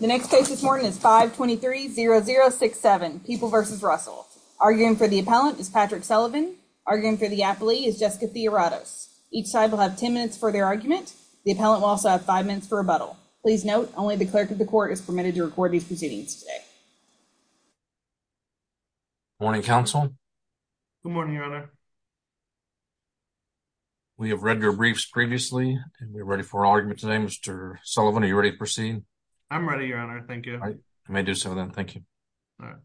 The next case this morning is 523-0067, People v. Russell. Arguing for the appellant is Patrick Sullivan. Arguing for the appellee is Jessica Theoratos. Each side will have 10 minutes for their argument. The appellant will also have five minutes for rebuttal. Please note, only the clerk of the court is permitted to record these proceedings today. Morning, counsel. Good morning, your honor. We have read your briefs previously, and we're ready for our argument today. Mr. Sullivan, are you ready to proceed? I'm ready, your honor. Thank you. I may do so then. Thank you. All right.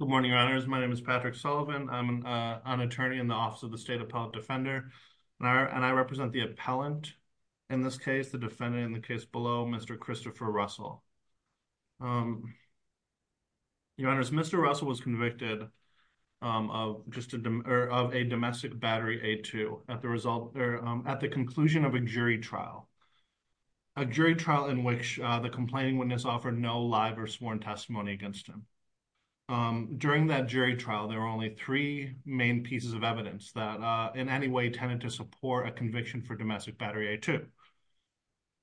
Good morning, your honors. My name is Patrick Sullivan. I'm an attorney in the Office of the State Appellate Defender, and I represent the appellant in this case, the defendant in the case below, Mr. Christopher Russell. Your honors, Mr. Russell was convicted of a domestic battery A2 at the conclusion of a jury trial, a jury trial in which the complaining witness offered no live or sworn testimony against him. During that jury trial, there were only three main pieces of evidence that in any way tended to support a conviction for domestic battery A2.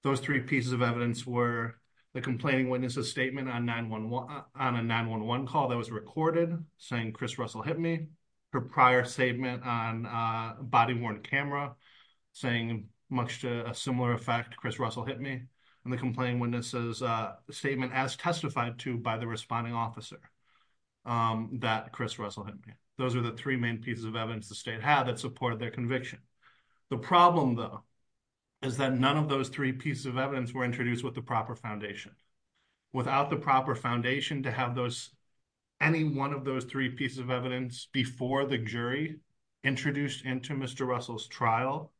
Those three pieces of evidence were the complaining witness' statement on a 911 call that was recorded, saying Chris Russell hit me, her prior statement on a body-worn camera saying much to a similar effect, Chris Russell hit me, and the complaining witness' statement as testified to by the responding officer that Chris Russell hit me. Those are the three main pieces of evidence the state had that supported their conviction. The problem, though, is that none of those three pieces of evidence were introduced with the proper foundation. Without the proper foundation to have those, any one of those three pieces of evidence before the jury introduced into Mr. Russell's trial,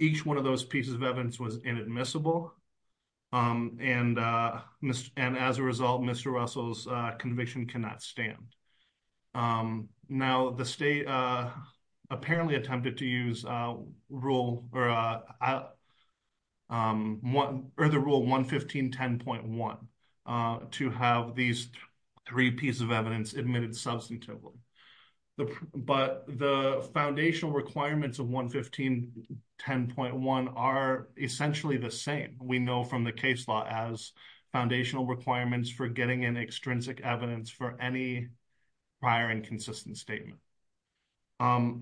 each one of those pieces of evidence was inadmissible, and as a result, Mr. Russell's conviction cannot stand. Now, the state apparently attempted to use rule, or the rule 115.10.1 to have these three pieces of evidence admitted substantively, but the foundational requirements of 115.10.1 are essentially the same. We know from the case law as foundational requirements for getting an extrinsic evidence for any prior inconsistent statement.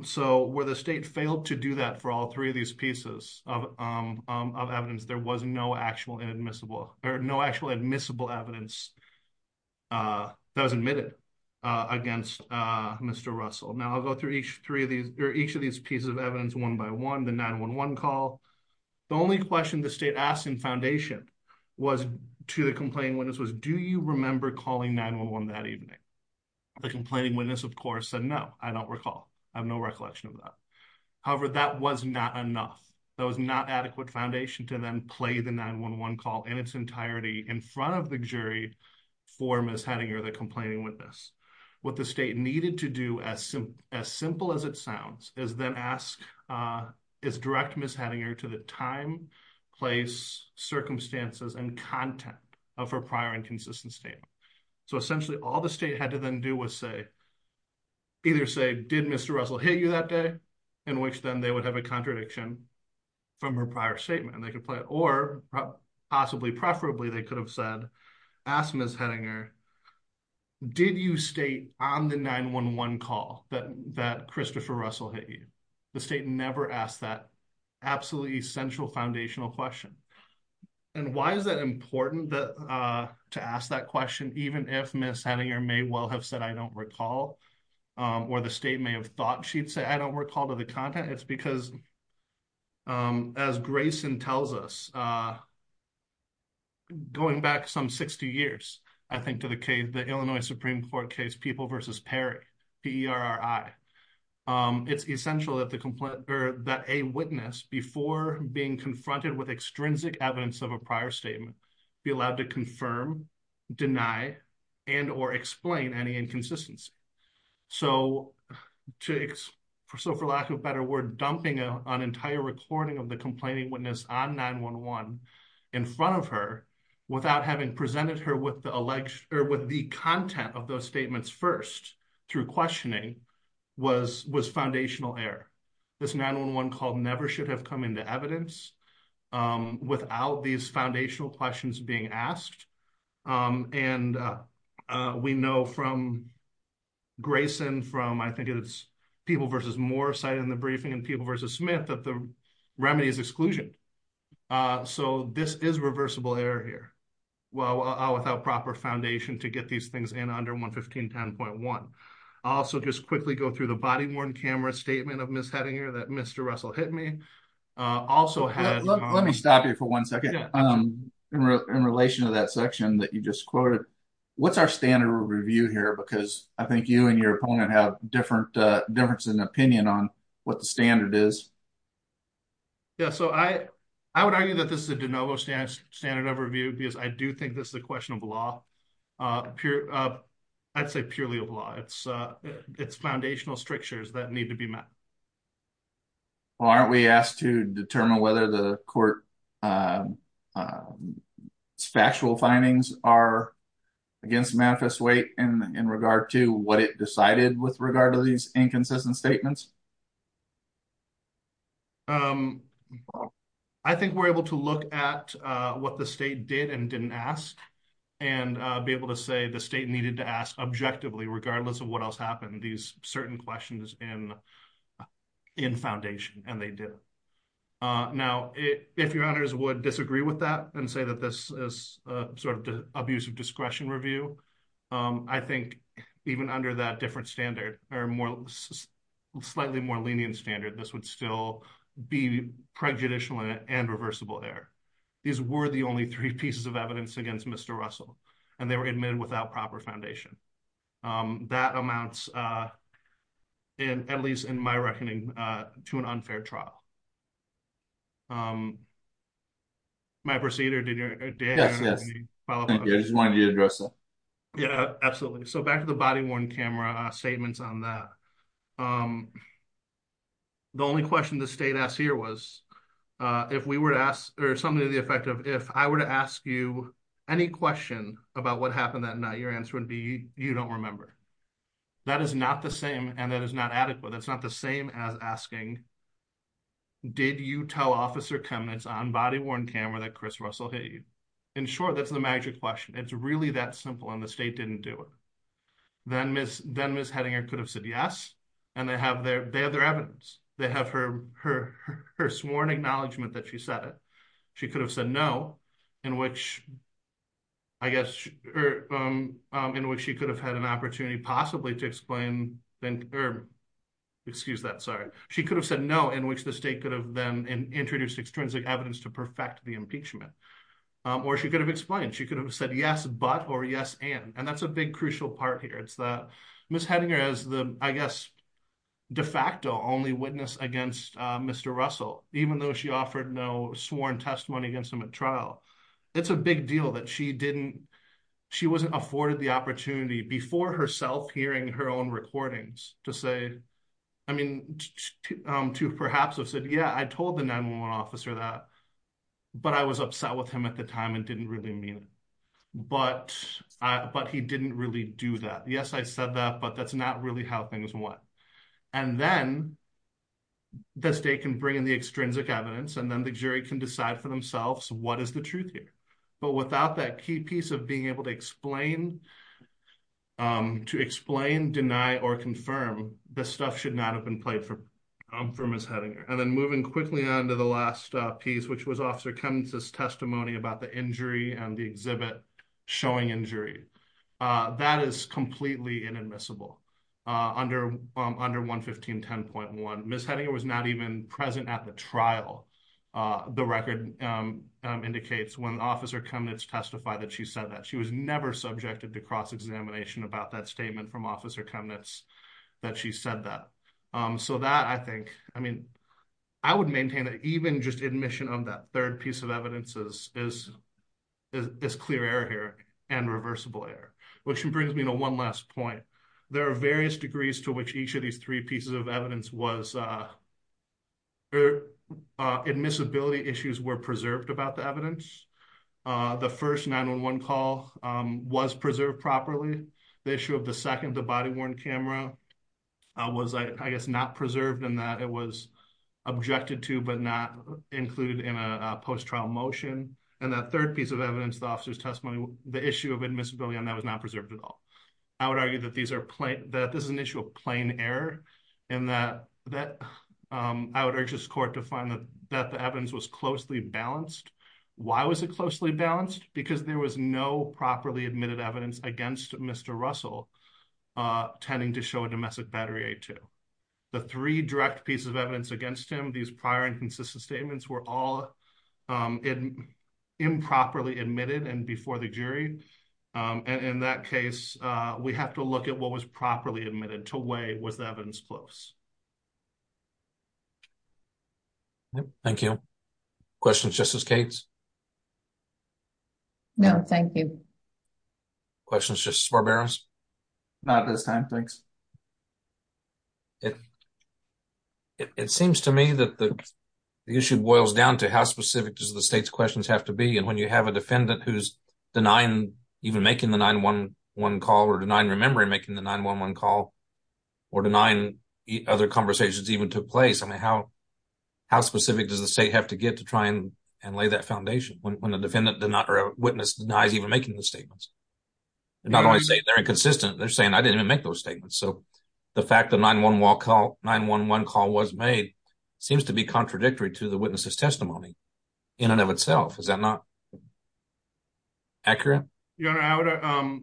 So where the state failed to do that for all three of these pieces of evidence, there was no actual inadmissible, or no actual admissible evidence that was admitted against Mr. Russell. Now, I'll go through each of these pieces of evidence one by one, the 911 call. The only question the state asked in foundation was to the complaining witness was, do you remember calling 911 that evening? The complaining witness, of course, said no, I don't recall. I have no recollection of that. However, that was not enough. That was not adequate foundation to then play the 911 call in its entirety in front of the jury for Ms. Hettinger, the complaining witness. What the state needed to do, as simple as it sounds, is then ask, is direct Ms. Hettinger to the time, place, circumstances, and content of her prior inconsistent statement. So essentially, all the state had to then do was say, either say, did Mr. Russell hit you that day, in which then they would have a contradiction from her prior statement, and they could play it, or possibly, preferably, they could have said, asked Ms. Hettinger, did you state on the 911 call that Christopher Russell hit you? The state never asked that absolutely essential foundational question. And why is that important to ask that question, even if Ms. Hettinger may well have said, I don't recall, or the state may have thought she'd say, I don't recall, to the content? It's because, as Grayson tells us, going back some 60 years, I think, to the Illinois Supreme Court case, People v. Perry, P-E-R-R-I, it's essential that a witness, before being confronted with extrinsic evidence of a prior statement, be allowed to confirm, deny, and or explain any inconsistency. So, for lack of a better word, dumping an entire recording of the complaining witness on 911 in front of her, without having presented her with the content of those statements first, through questioning, was foundational error. This 911 call never should have come into evidence without these foundational questions being asked. And we know from Grayson, from, I think it's People v. Moore, cited in the briefing, and People v. Smith, that the remedy is exclusion. So, this is reversible error here, well, without proper foundation to get these things in under 11510.1. I'll also just quickly go through the body-worn camera statement of Ms. Hettinger that Mr. Russell hit me, also had- In the section that you just quoted, what's our standard of review here? Because I think you and your opponent have different difference in opinion on what the standard is. Yeah, so I would argue that this is a de novo standard of review, because I do think this is a question of law. I'd say purely of law, it's foundational strictures that need to be met. Well, aren't we asked to determine whether the court's factual findings are against manifest weight, and in regard to what it decided with regard to these inconsistent statements? I think we're able to look at what the state did and didn't ask, and be able to say the state needed to ask objectively, regardless of what else happened, these certain questions in foundation, and they did. Now, if your honors would disagree with that, and say that this is sort of abusive discretion review, I think even under that different standard, or slightly more lenient standard, this would still be prejudicial and reversible error. These were the only three pieces of evidence against Mr. Russell, and they were admitted without proper foundation. That amounts, at least in my reckoning, to an unfair trial. My proceeder, did you have anything to follow up on? Thank you, I just wanted you to address that. Yeah, absolutely. So back to the body-worn camera statements on that. The only question the state asked here was, if we were to ask, or something to the effect of, if I were to ask you any question about what happened that night, your answer would be, you don't remember. That is not the same, and that is not adequate. That's not the same as asking, did you tell Officer Chemnitz on body-worn camera that Chris Russell hit you? In short, that's the magic question. It's really that simple, and the state didn't do it. Then Ms. Hedinger could have said yes, and they have their evidence. They have her sworn acknowledgment that she said it. She could have said no, in which, I guess, in which she could have had an opportunity, possibly, to explain, or, excuse that, sorry. She could have said no, in which the state could have then introduced extrinsic evidence to perfect the impeachment, or she could have explained. She could have said yes, but, or yes, and, and that's a big, crucial part here. It's that Ms. Hedinger has the, I guess, de facto only witness against Mr. Russell, even though she offered no sworn testimony against him at trial. It's a big deal that she didn't, she wasn't afforded the opportunity before herself hearing her own recordings to say, I mean, to perhaps have said, yeah, I told the 911 officer that, but I was upset with him at the time and didn't really mean it, but he didn't really do that. Yes, I said that, but that's not really how things went, and then the state can bring in the extrinsic evidence, and then the jury can decide for themselves what is the truth here, but without that key piece of being able to explain to explain, deny, or confirm, this stuff should not have been played for Ms. Hedinger. And then moving quickly on to the last piece, which was Officer Cummins' testimony about the injury and the exhibit showing injury. That is completely inadmissible under 115.10.1. Ms. Hedinger was not even present at the trial. The record indicates when Officer Cummins testified that she said that. She was never subjected to cross-examination about that statement from Officer Cummins that she said that. So that, I think, I mean, I would maintain that even just admission on that third piece of evidence is clear error here and reversible error, which brings me to one last point. There are various degrees to which each of these three pieces of evidence was, admissibility issues were preserved about the evidence. The first 911 call was preserved properly. The issue of the second, the body-worn camera, was, I guess, not preserved in that it was objected to, but not included in a post-trial motion. And that third piece of evidence, the officer's testimony, the issue of admissibility on that was not preserved at all. I would argue that this is an issue of plain error and that I would urge this court to find that the evidence was closely balanced. Why was it closely balanced? Because there was no properly admitted evidence against Mr. Russell tending to show a domestic battery A2. The three direct pieces of evidence against him, these prior and consistent statements, were all improperly admitted and before the jury. And in that case, we have to look at what was properly admitted to weigh was the evidence close. Thank you. Questions, Justice Cates? No, thank you. Questions, Justice Barberos? Not at this time, thanks. It seems to me that the issue boils down to how specific does the state's questions have to be. And when you have a defendant who's denying, even making the 911 call or denying remembering making the 911 call or denying, other conversations even took place. I mean, how specific does the state have to get to try and lay that foundation when the defendant did not, or a witness denies even making the statements? They're not only saying they're inconsistent, they're saying, I didn't even make those statements. So the fact that 911 call was made seems to be contradictory to the witness's testimony in and of itself. Is that not accurate? Your Honor,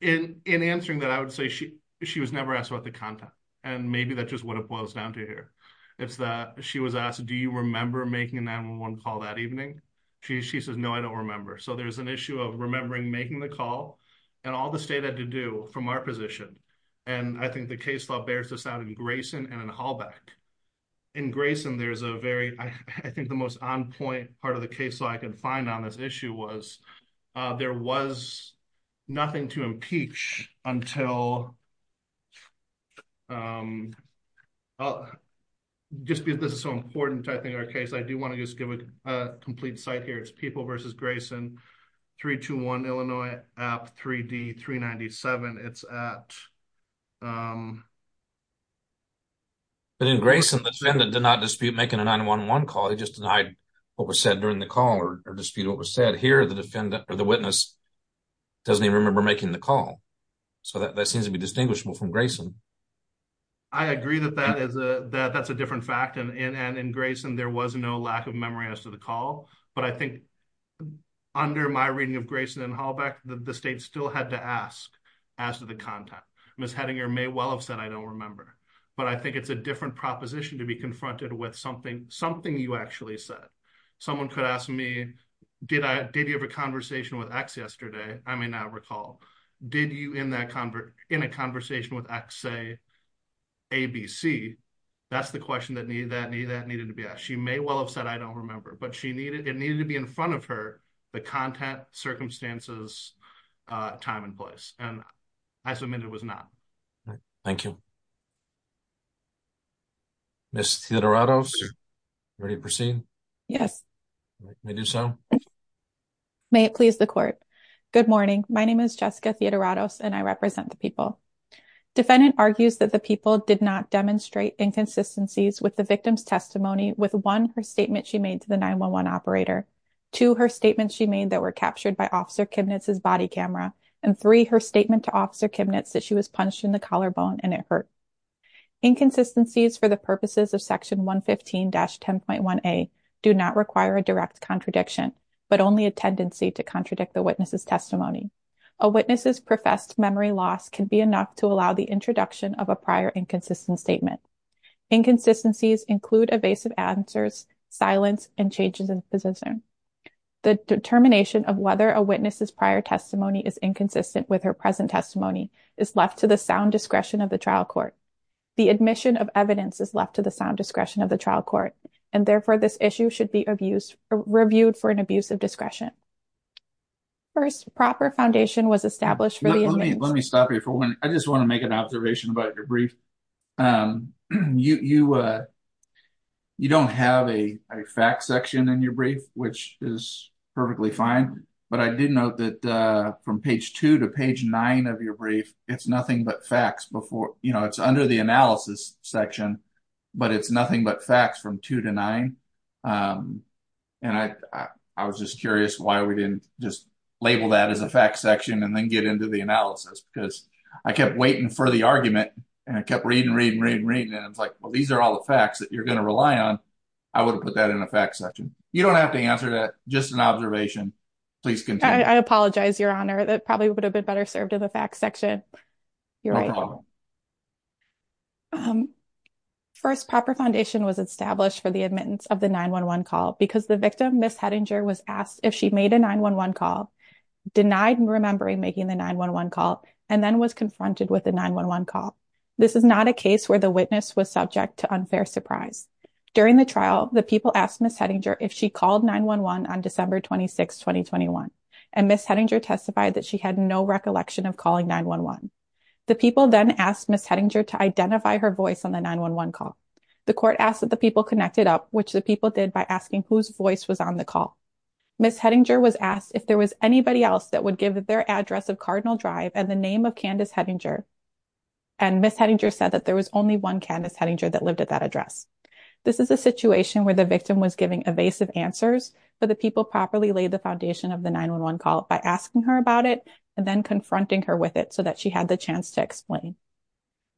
in answering that, I would say she was never asked about the content. And maybe that's just what it boils down to here. It's that she was asked, do you remember making a 911 call that evening? She says, no, I don't remember. So there's an issue of remembering making the call and all the state had to do from our position. And I think the case law bears this out in Grayson and in Halbeck. In Grayson, there's a very, I think the most on point part of the case law I could find on this issue was, there was nothing to impeach until, just because this is so important, I think, our case. I do want to just give a complete site here. It's People v. Grayson, 321 Illinois, App 3D 397. It's at. But in Grayson, the defendant did not dispute making a 911 call. He just denied what was said during the call or dispute what was said. But here, the witness doesn't even remember making the call. So that seems to be distinguishable from Grayson. I agree that that's a different fact. And in Grayson, there was no lack of memory as to the call, but I think under my reading of Grayson and Halbeck, the state still had to ask as to the content. Ms. Hedinger may well have said, I don't remember, but I think it's a different proposition to be confronted with something you actually said. Someone could ask me, did you have a conversation with X yesterday? I may not recall. Did you, in a conversation with X, say ABC? That's the question that needed to be asked. She may well have said, I don't remember, but it needed to be in front of her, the content, circumstances, time and place. And I submit it was not. Thank you. Ms. Sideratos, ready to proceed? Yes. May I do so? May it please the court. Good morning. My name is Jessica Sideratos and I represent the people. Defendant argues that the people did not demonstrate inconsistencies with the victim's testimony, with one, her statement she made to the 911 operator, two, her statement she made that were captured by Officer Kibnitz's body camera, and three, her statement to Officer Kibnitz that she was punched in the collarbone and it hurt. Inconsistencies for the purposes of section 115-10.1A do not require a direct contradiction, but only a tendency to contradict the witness's testimony. A witness's professed memory loss can be enough to allow the introduction of a prior inconsistent statement. Inconsistencies include evasive answers, silence and changes in position. The determination of whether a witness's prior testimony is inconsistent with her present testimony is left to the sound discretion of the trial court. The admission of evidence is left to the sound discretion of the trial court, and therefore this issue should be reviewed for an abuse of discretion. First, proper foundation was established for the- Let me stop you for one. I just want to make an observation about your brief. You don't have a fact section in your brief, which is perfectly fine, but I did note that from page two to page nine of your brief, it's nothing but facts before, you know, it's under the analysis section, but it's nothing but facts from two to nine. And I was just curious why we didn't just label that as a fact section and then get into the analysis, because I kept waiting for the argument and I kept reading, reading, reading, reading, and I was like, well, these are all the facts that you're going to rely on. I would have put that in a fact section. You don't have to answer that, just an observation. Please continue. I apologize, your honor. That probably would have been better served in the facts section. You're right. No problem. First, proper foundation was established for the admittance of the 911 call because the victim, Ms. Hedinger, was asked if she made a 911 call, denied remembering making the 911 call, and then was confronted with a 911 call. This is not a case where the witness was subject to unfair surprise. During the trial, the people asked Ms. Hedinger if she called 911 on December 26th, 2021, and Ms. Hedinger testified that she had no recollection of calling 911. The people then asked Ms. Hedinger to identify her voice on the 911 call. The court asked that the people connected up, which the people did by asking whose voice was on the call. Ms. Hedinger was asked if there was anybody else that would give their address of Cardinal Drive and the name of Candace Hedinger, and Ms. Hedinger said that there was only one Candace Hedinger that lived at that address. This is a situation where the victim was giving evasive answers, but the people properly laid the foundation of the 911 call by asking her about it, and then confronting her with it so that she had the chance to explain.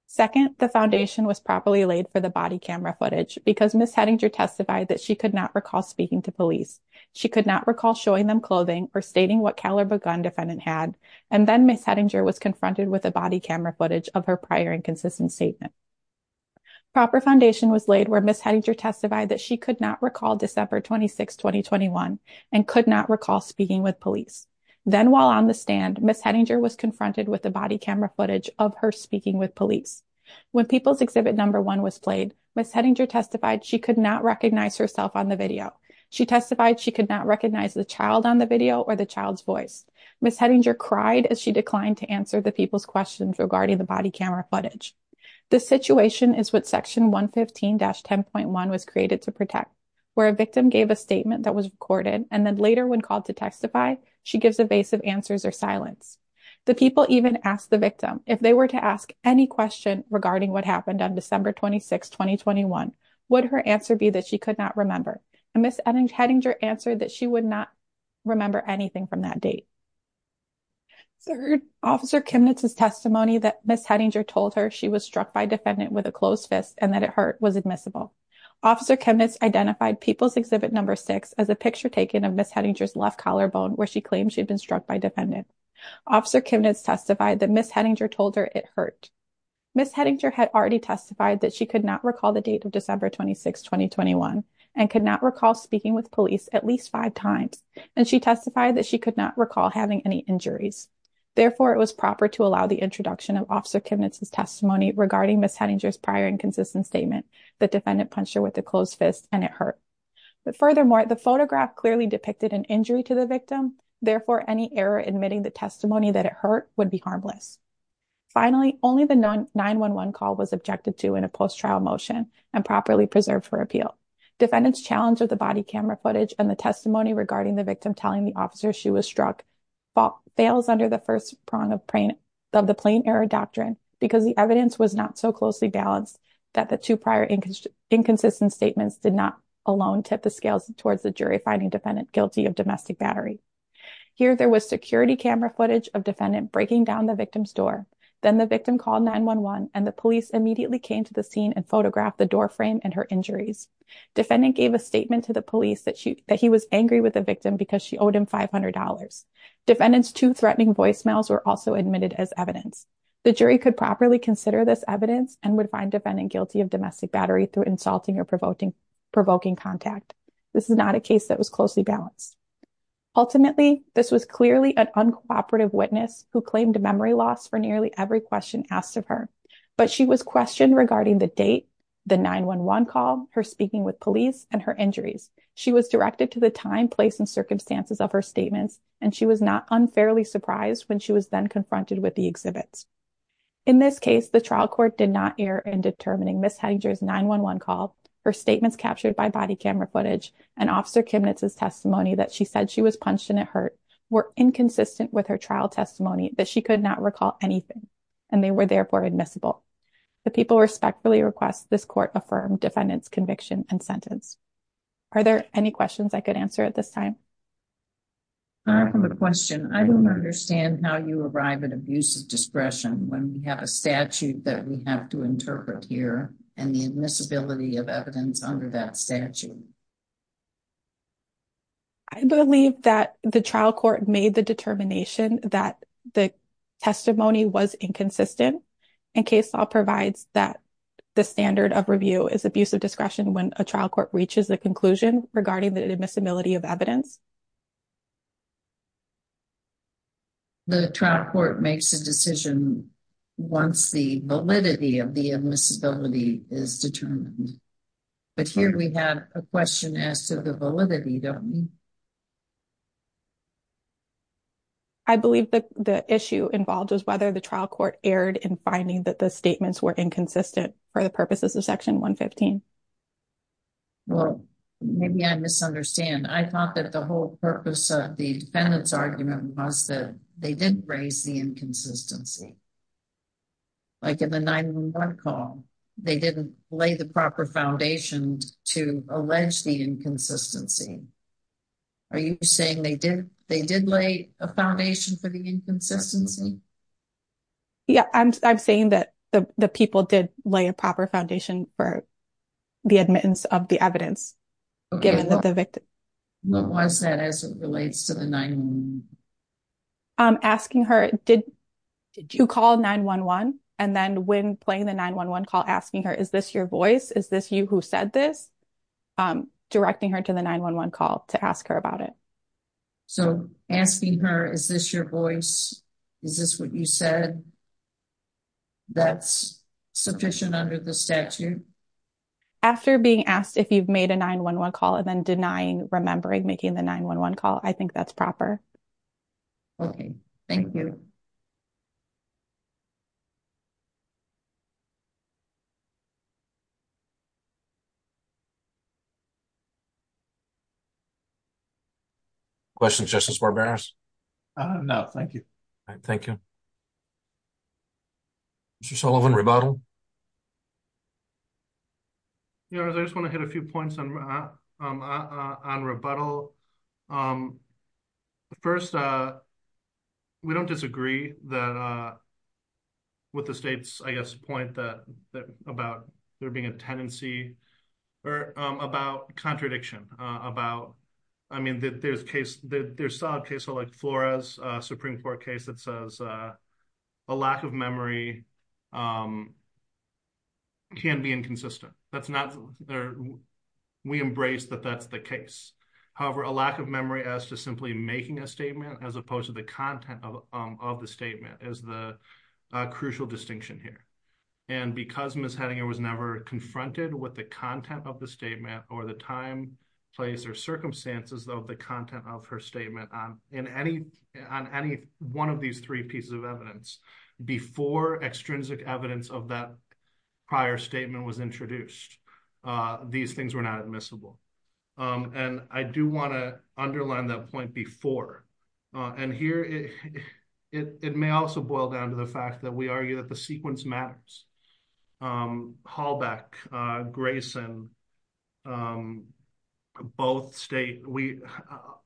Second, the foundation was properly laid for the body camera footage, because Ms. Hedinger testified that she could not recall speaking to police. She could not recall showing them clothing or stating what caliber gun defendant had, and then Ms. Hedinger was confronted with a body camera footage of her prior inconsistent statement. Proper foundation was laid where Ms. Hedinger testified that she could not recall December 26, 2021, and could not recall speaking with police. Then while on the stand, Ms. Hedinger was confronted with the body camera footage of her speaking with police. When People's Exhibit No. 1 was played, Ms. Hedinger testified she could not recognize herself on the video. She testified she could not recognize the child on the video or the child's voice. Ms. Hedinger cried as she declined to answer the people's questions regarding the body camera footage. This situation is what Section 115-10.1 was created to protect, where a victim gave a statement that was recorded, and then later when called to testify, she gives evasive answers or silence. The people even asked the victim if they were to ask any question regarding what happened on December 26, 2021, would her answer be that she could not remember? And Ms. Hedinger answered that she would not remember anything from that date. Third, Officer Kimnitz's testimony that Ms. Hedinger told her she was struck by defendant with a closed fist and that it hurt was admissible. Officer Kimnitz identified People's Exhibit No. 6 as a picture taken of Ms. Hedinger's left collarbone where she claimed she'd been struck by defendant. Officer Kimnitz testified that Ms. Hedinger told her it hurt. Ms. Hedinger had already testified that she could not recall the date of December 26, 2021, and could not recall speaking with police at least five times, and she testified that she could not recall having any injuries. Therefore, it was proper to allow the introduction of Officer Kimnitz's testimony regarding Ms. Hedinger's prior inconsistent statement that defendant punched her with a closed fist and it hurt. But furthermore, the photograph clearly depicted an injury to the victim. Therefore, any error admitting the testimony that it hurt would be harmless. Finally, only the 911 call was objected to in a post-trial motion and properly preserved for appeal. Defendant's challenge of the body camera footage and the testimony regarding the victim telling the officer she was struck fails under the first prong of the Plain Error Doctrine because the evidence was not so closely balanced that the two prior inconsistent statements did not alone tip the scales towards the jury finding defendant guilty of domestic battery. Here, there was security camera footage of defendant breaking down the victim's door. Then the victim called 911 and the police immediately came to the scene and photographed the doorframe and her injuries. Defendant gave a statement to the police that he was angry with the victim because she owed him $500. Defendant's two threatening voicemails were also admitted as evidence. The jury could properly consider this evidence and would find defendant guilty of domestic battery through insulting or provoking contact. This is not a case that was closely balanced. Ultimately, this was clearly an uncooperative witness who claimed memory loss for nearly every question asked of her, but she was questioned regarding the date, the 911 call, her speaking with police, and her injuries. She was directed to the time, place, and circumstances of her statements, and she was not unfairly surprised when she was then confronted with the exhibits. In this case, the trial court did not err in determining Ms. Hedinger's 911 call, her statements captured by body camera footage, and Officer Kimnitz's testimony that she said she was punched and it hurt were inconsistent with her trial testimony that she could not recall anything, and they were therefore admissible. The people respectfully request this court affirm defendant's conviction and sentence. Are there any questions I could answer at this time? I have a question. I don't understand how you arrive at abusive discretion when we have a statute that we have to interpret here and the admissibility of evidence under that statute. I believe that the trial court made the determination that the testimony was inconsistent, and case law provides that the standard of review is abusive discretion when a trial court reaches a conclusion regarding the admissibility of evidence. The trial court makes a decision once the validity of the admissibility is determined, but here we have a question as to the validity, don't we? I believe that the issue involved was whether the trial court erred in finding that the statements were inconsistent for the purposes of Section 115. Well, maybe I misunderstand. I thought that the whole purpose of the defendant's argument was that they didn't raise the inconsistency. Like in the 911 call, they didn't lay the proper foundation to allege the inconsistency. Are you saying they did lay a foundation for the inconsistency? Yeah, I'm saying that the people did lay a proper foundation for the admittance of the evidence, given that the victim- What was that as it relates to the 911? Asking her, did you call 911? And then when playing the 911 call, asking her, is this your voice? Is this you who said this? Directing her to the 911 call to ask her about it. So asking her, is this your voice? Is this what you said that's sufficient under the statute? After being asked if you've made a 911 call and then denying remembering making the 911 call, I think that's proper. Okay, thank you. Questions, Justice Barberos? No, thank you. Thank you. Mr. Sullivan, rebuttal? Yeah, I just wanna hit a few points on rebuttal. First, we don't disagree with the state's, I guess, point about there being a tendency, or about contradiction about, I mean, there's solid cases like Flores Supreme Court case that says a lack of memory, can be inconsistent. That's not, we embrace that that's the case. However, a lack of memory as to simply making a statement as opposed to the content of the statement is the crucial distinction here. And because Ms. Hedinger was never confronted with the content of the statement, or the time, place, or circumstances of the content of her statement on any one of these three pieces of evidence, before extrinsic evidence of that prior statement was introduced, these things were not admissible. And I do wanna underline that point before. And here, it may also boil down to the fact that we argue that the sequence matters. Halbeck, Grayson, both state,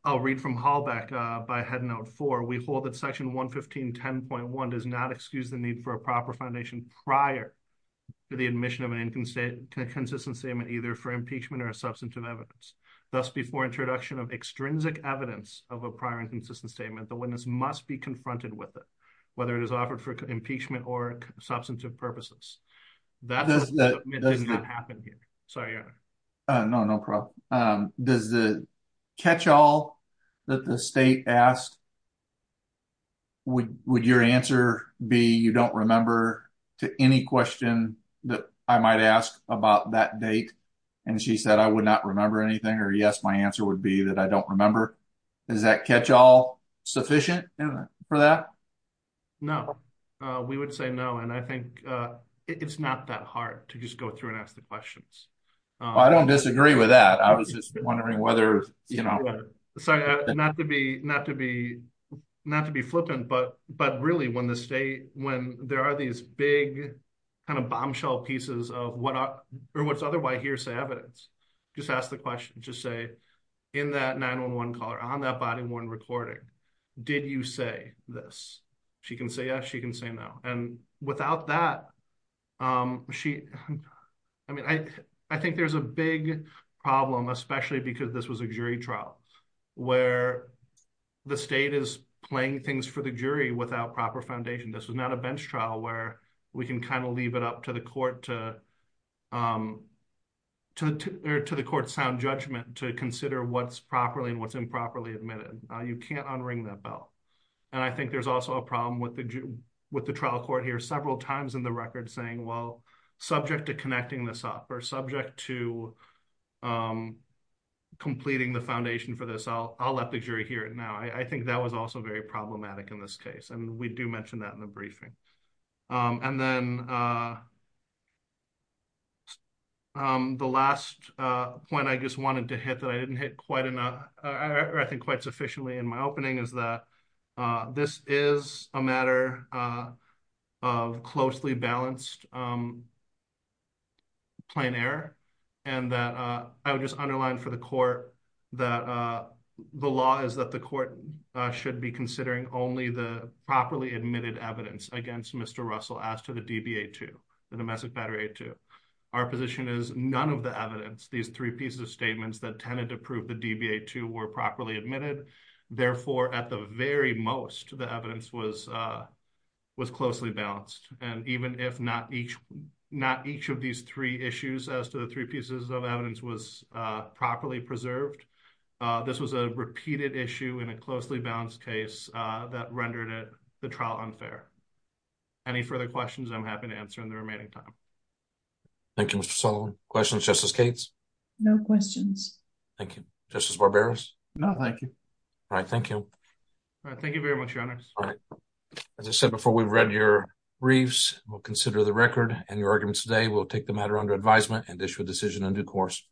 I'll read from Halbeck by head note four, we hold that section 115.10.1 does not excuse the need for a proper foundation prior to the admission of an inconsistent statement, either for impeachment or a substantive evidence. Thus before introduction of extrinsic evidence of a prior inconsistent statement, the witness must be confronted with it, whether it is offered for impeachment or substantive purposes. That does not happen here. Sorry, your honor. No, no problem. Does the catch all that the state asked, would your answer be you don't remember to any question that I might ask about that date? And she said, I would not remember anything, or yes, my answer would be that I don't remember. Is that catch all sufficient for that? No, we would say no. And I think it's not that hard to just go through and ask the questions. I don't disagree with that. I was just wondering whether, you know. Sorry, not to be flippant, but really when the state, when there are these big kind of bombshell pieces of what's otherwise hearsay evidence, just ask the question, just say, in that 911 call or on that body-worn recording, did you say this? She can say yes, she can say no. And without that, she, I mean, I think there's a big problem, especially because this was a jury trial where the state is playing things for the jury without proper foundation. This was not a bench trial where we can kind of leave it up to the court to the court's sound judgment to consider what's properly and what's improperly admitted. You can't unring that bell. And I think there's also a problem with the trial court here several times in the record saying, well, subject to connecting this up or subject to completing the foundation for this, I'll let the jury hear it now. I think that was also very problematic in this case. And we do mention that in the briefing. And then the last point I just wanted to hit that I didn't hit quite enough, or I think quite sufficiently in my opening is that this is a matter of closely balanced plain error. And that I would just underline for the court that the law is that the court should be considering only the properly admitted evidence against Mr. Russell as to the DBA-2, the domestic battery A-2. Our position is none of the evidence, these three pieces of statements that tended to prove the DBA-2 were properly admitted. Therefore, at the very most, the evidence was closely balanced. And even if not each of these three issues as to the three pieces of evidence was properly preserved, this was a repeated issue in a closely balanced case that rendered the trial unfair. Any further questions, I'm happy to answer in the remaining time. Thank you, Mr. Sullivan. Questions, Justice Cates? No questions. Thank you. Justice Barberos? No, thank you. All right, thank you. All right, thank you very much, your honors. All right. As I said before, we've read your briefs. We'll consider the record and your arguments today. We'll take the matter under advisement and issue a decision on due course.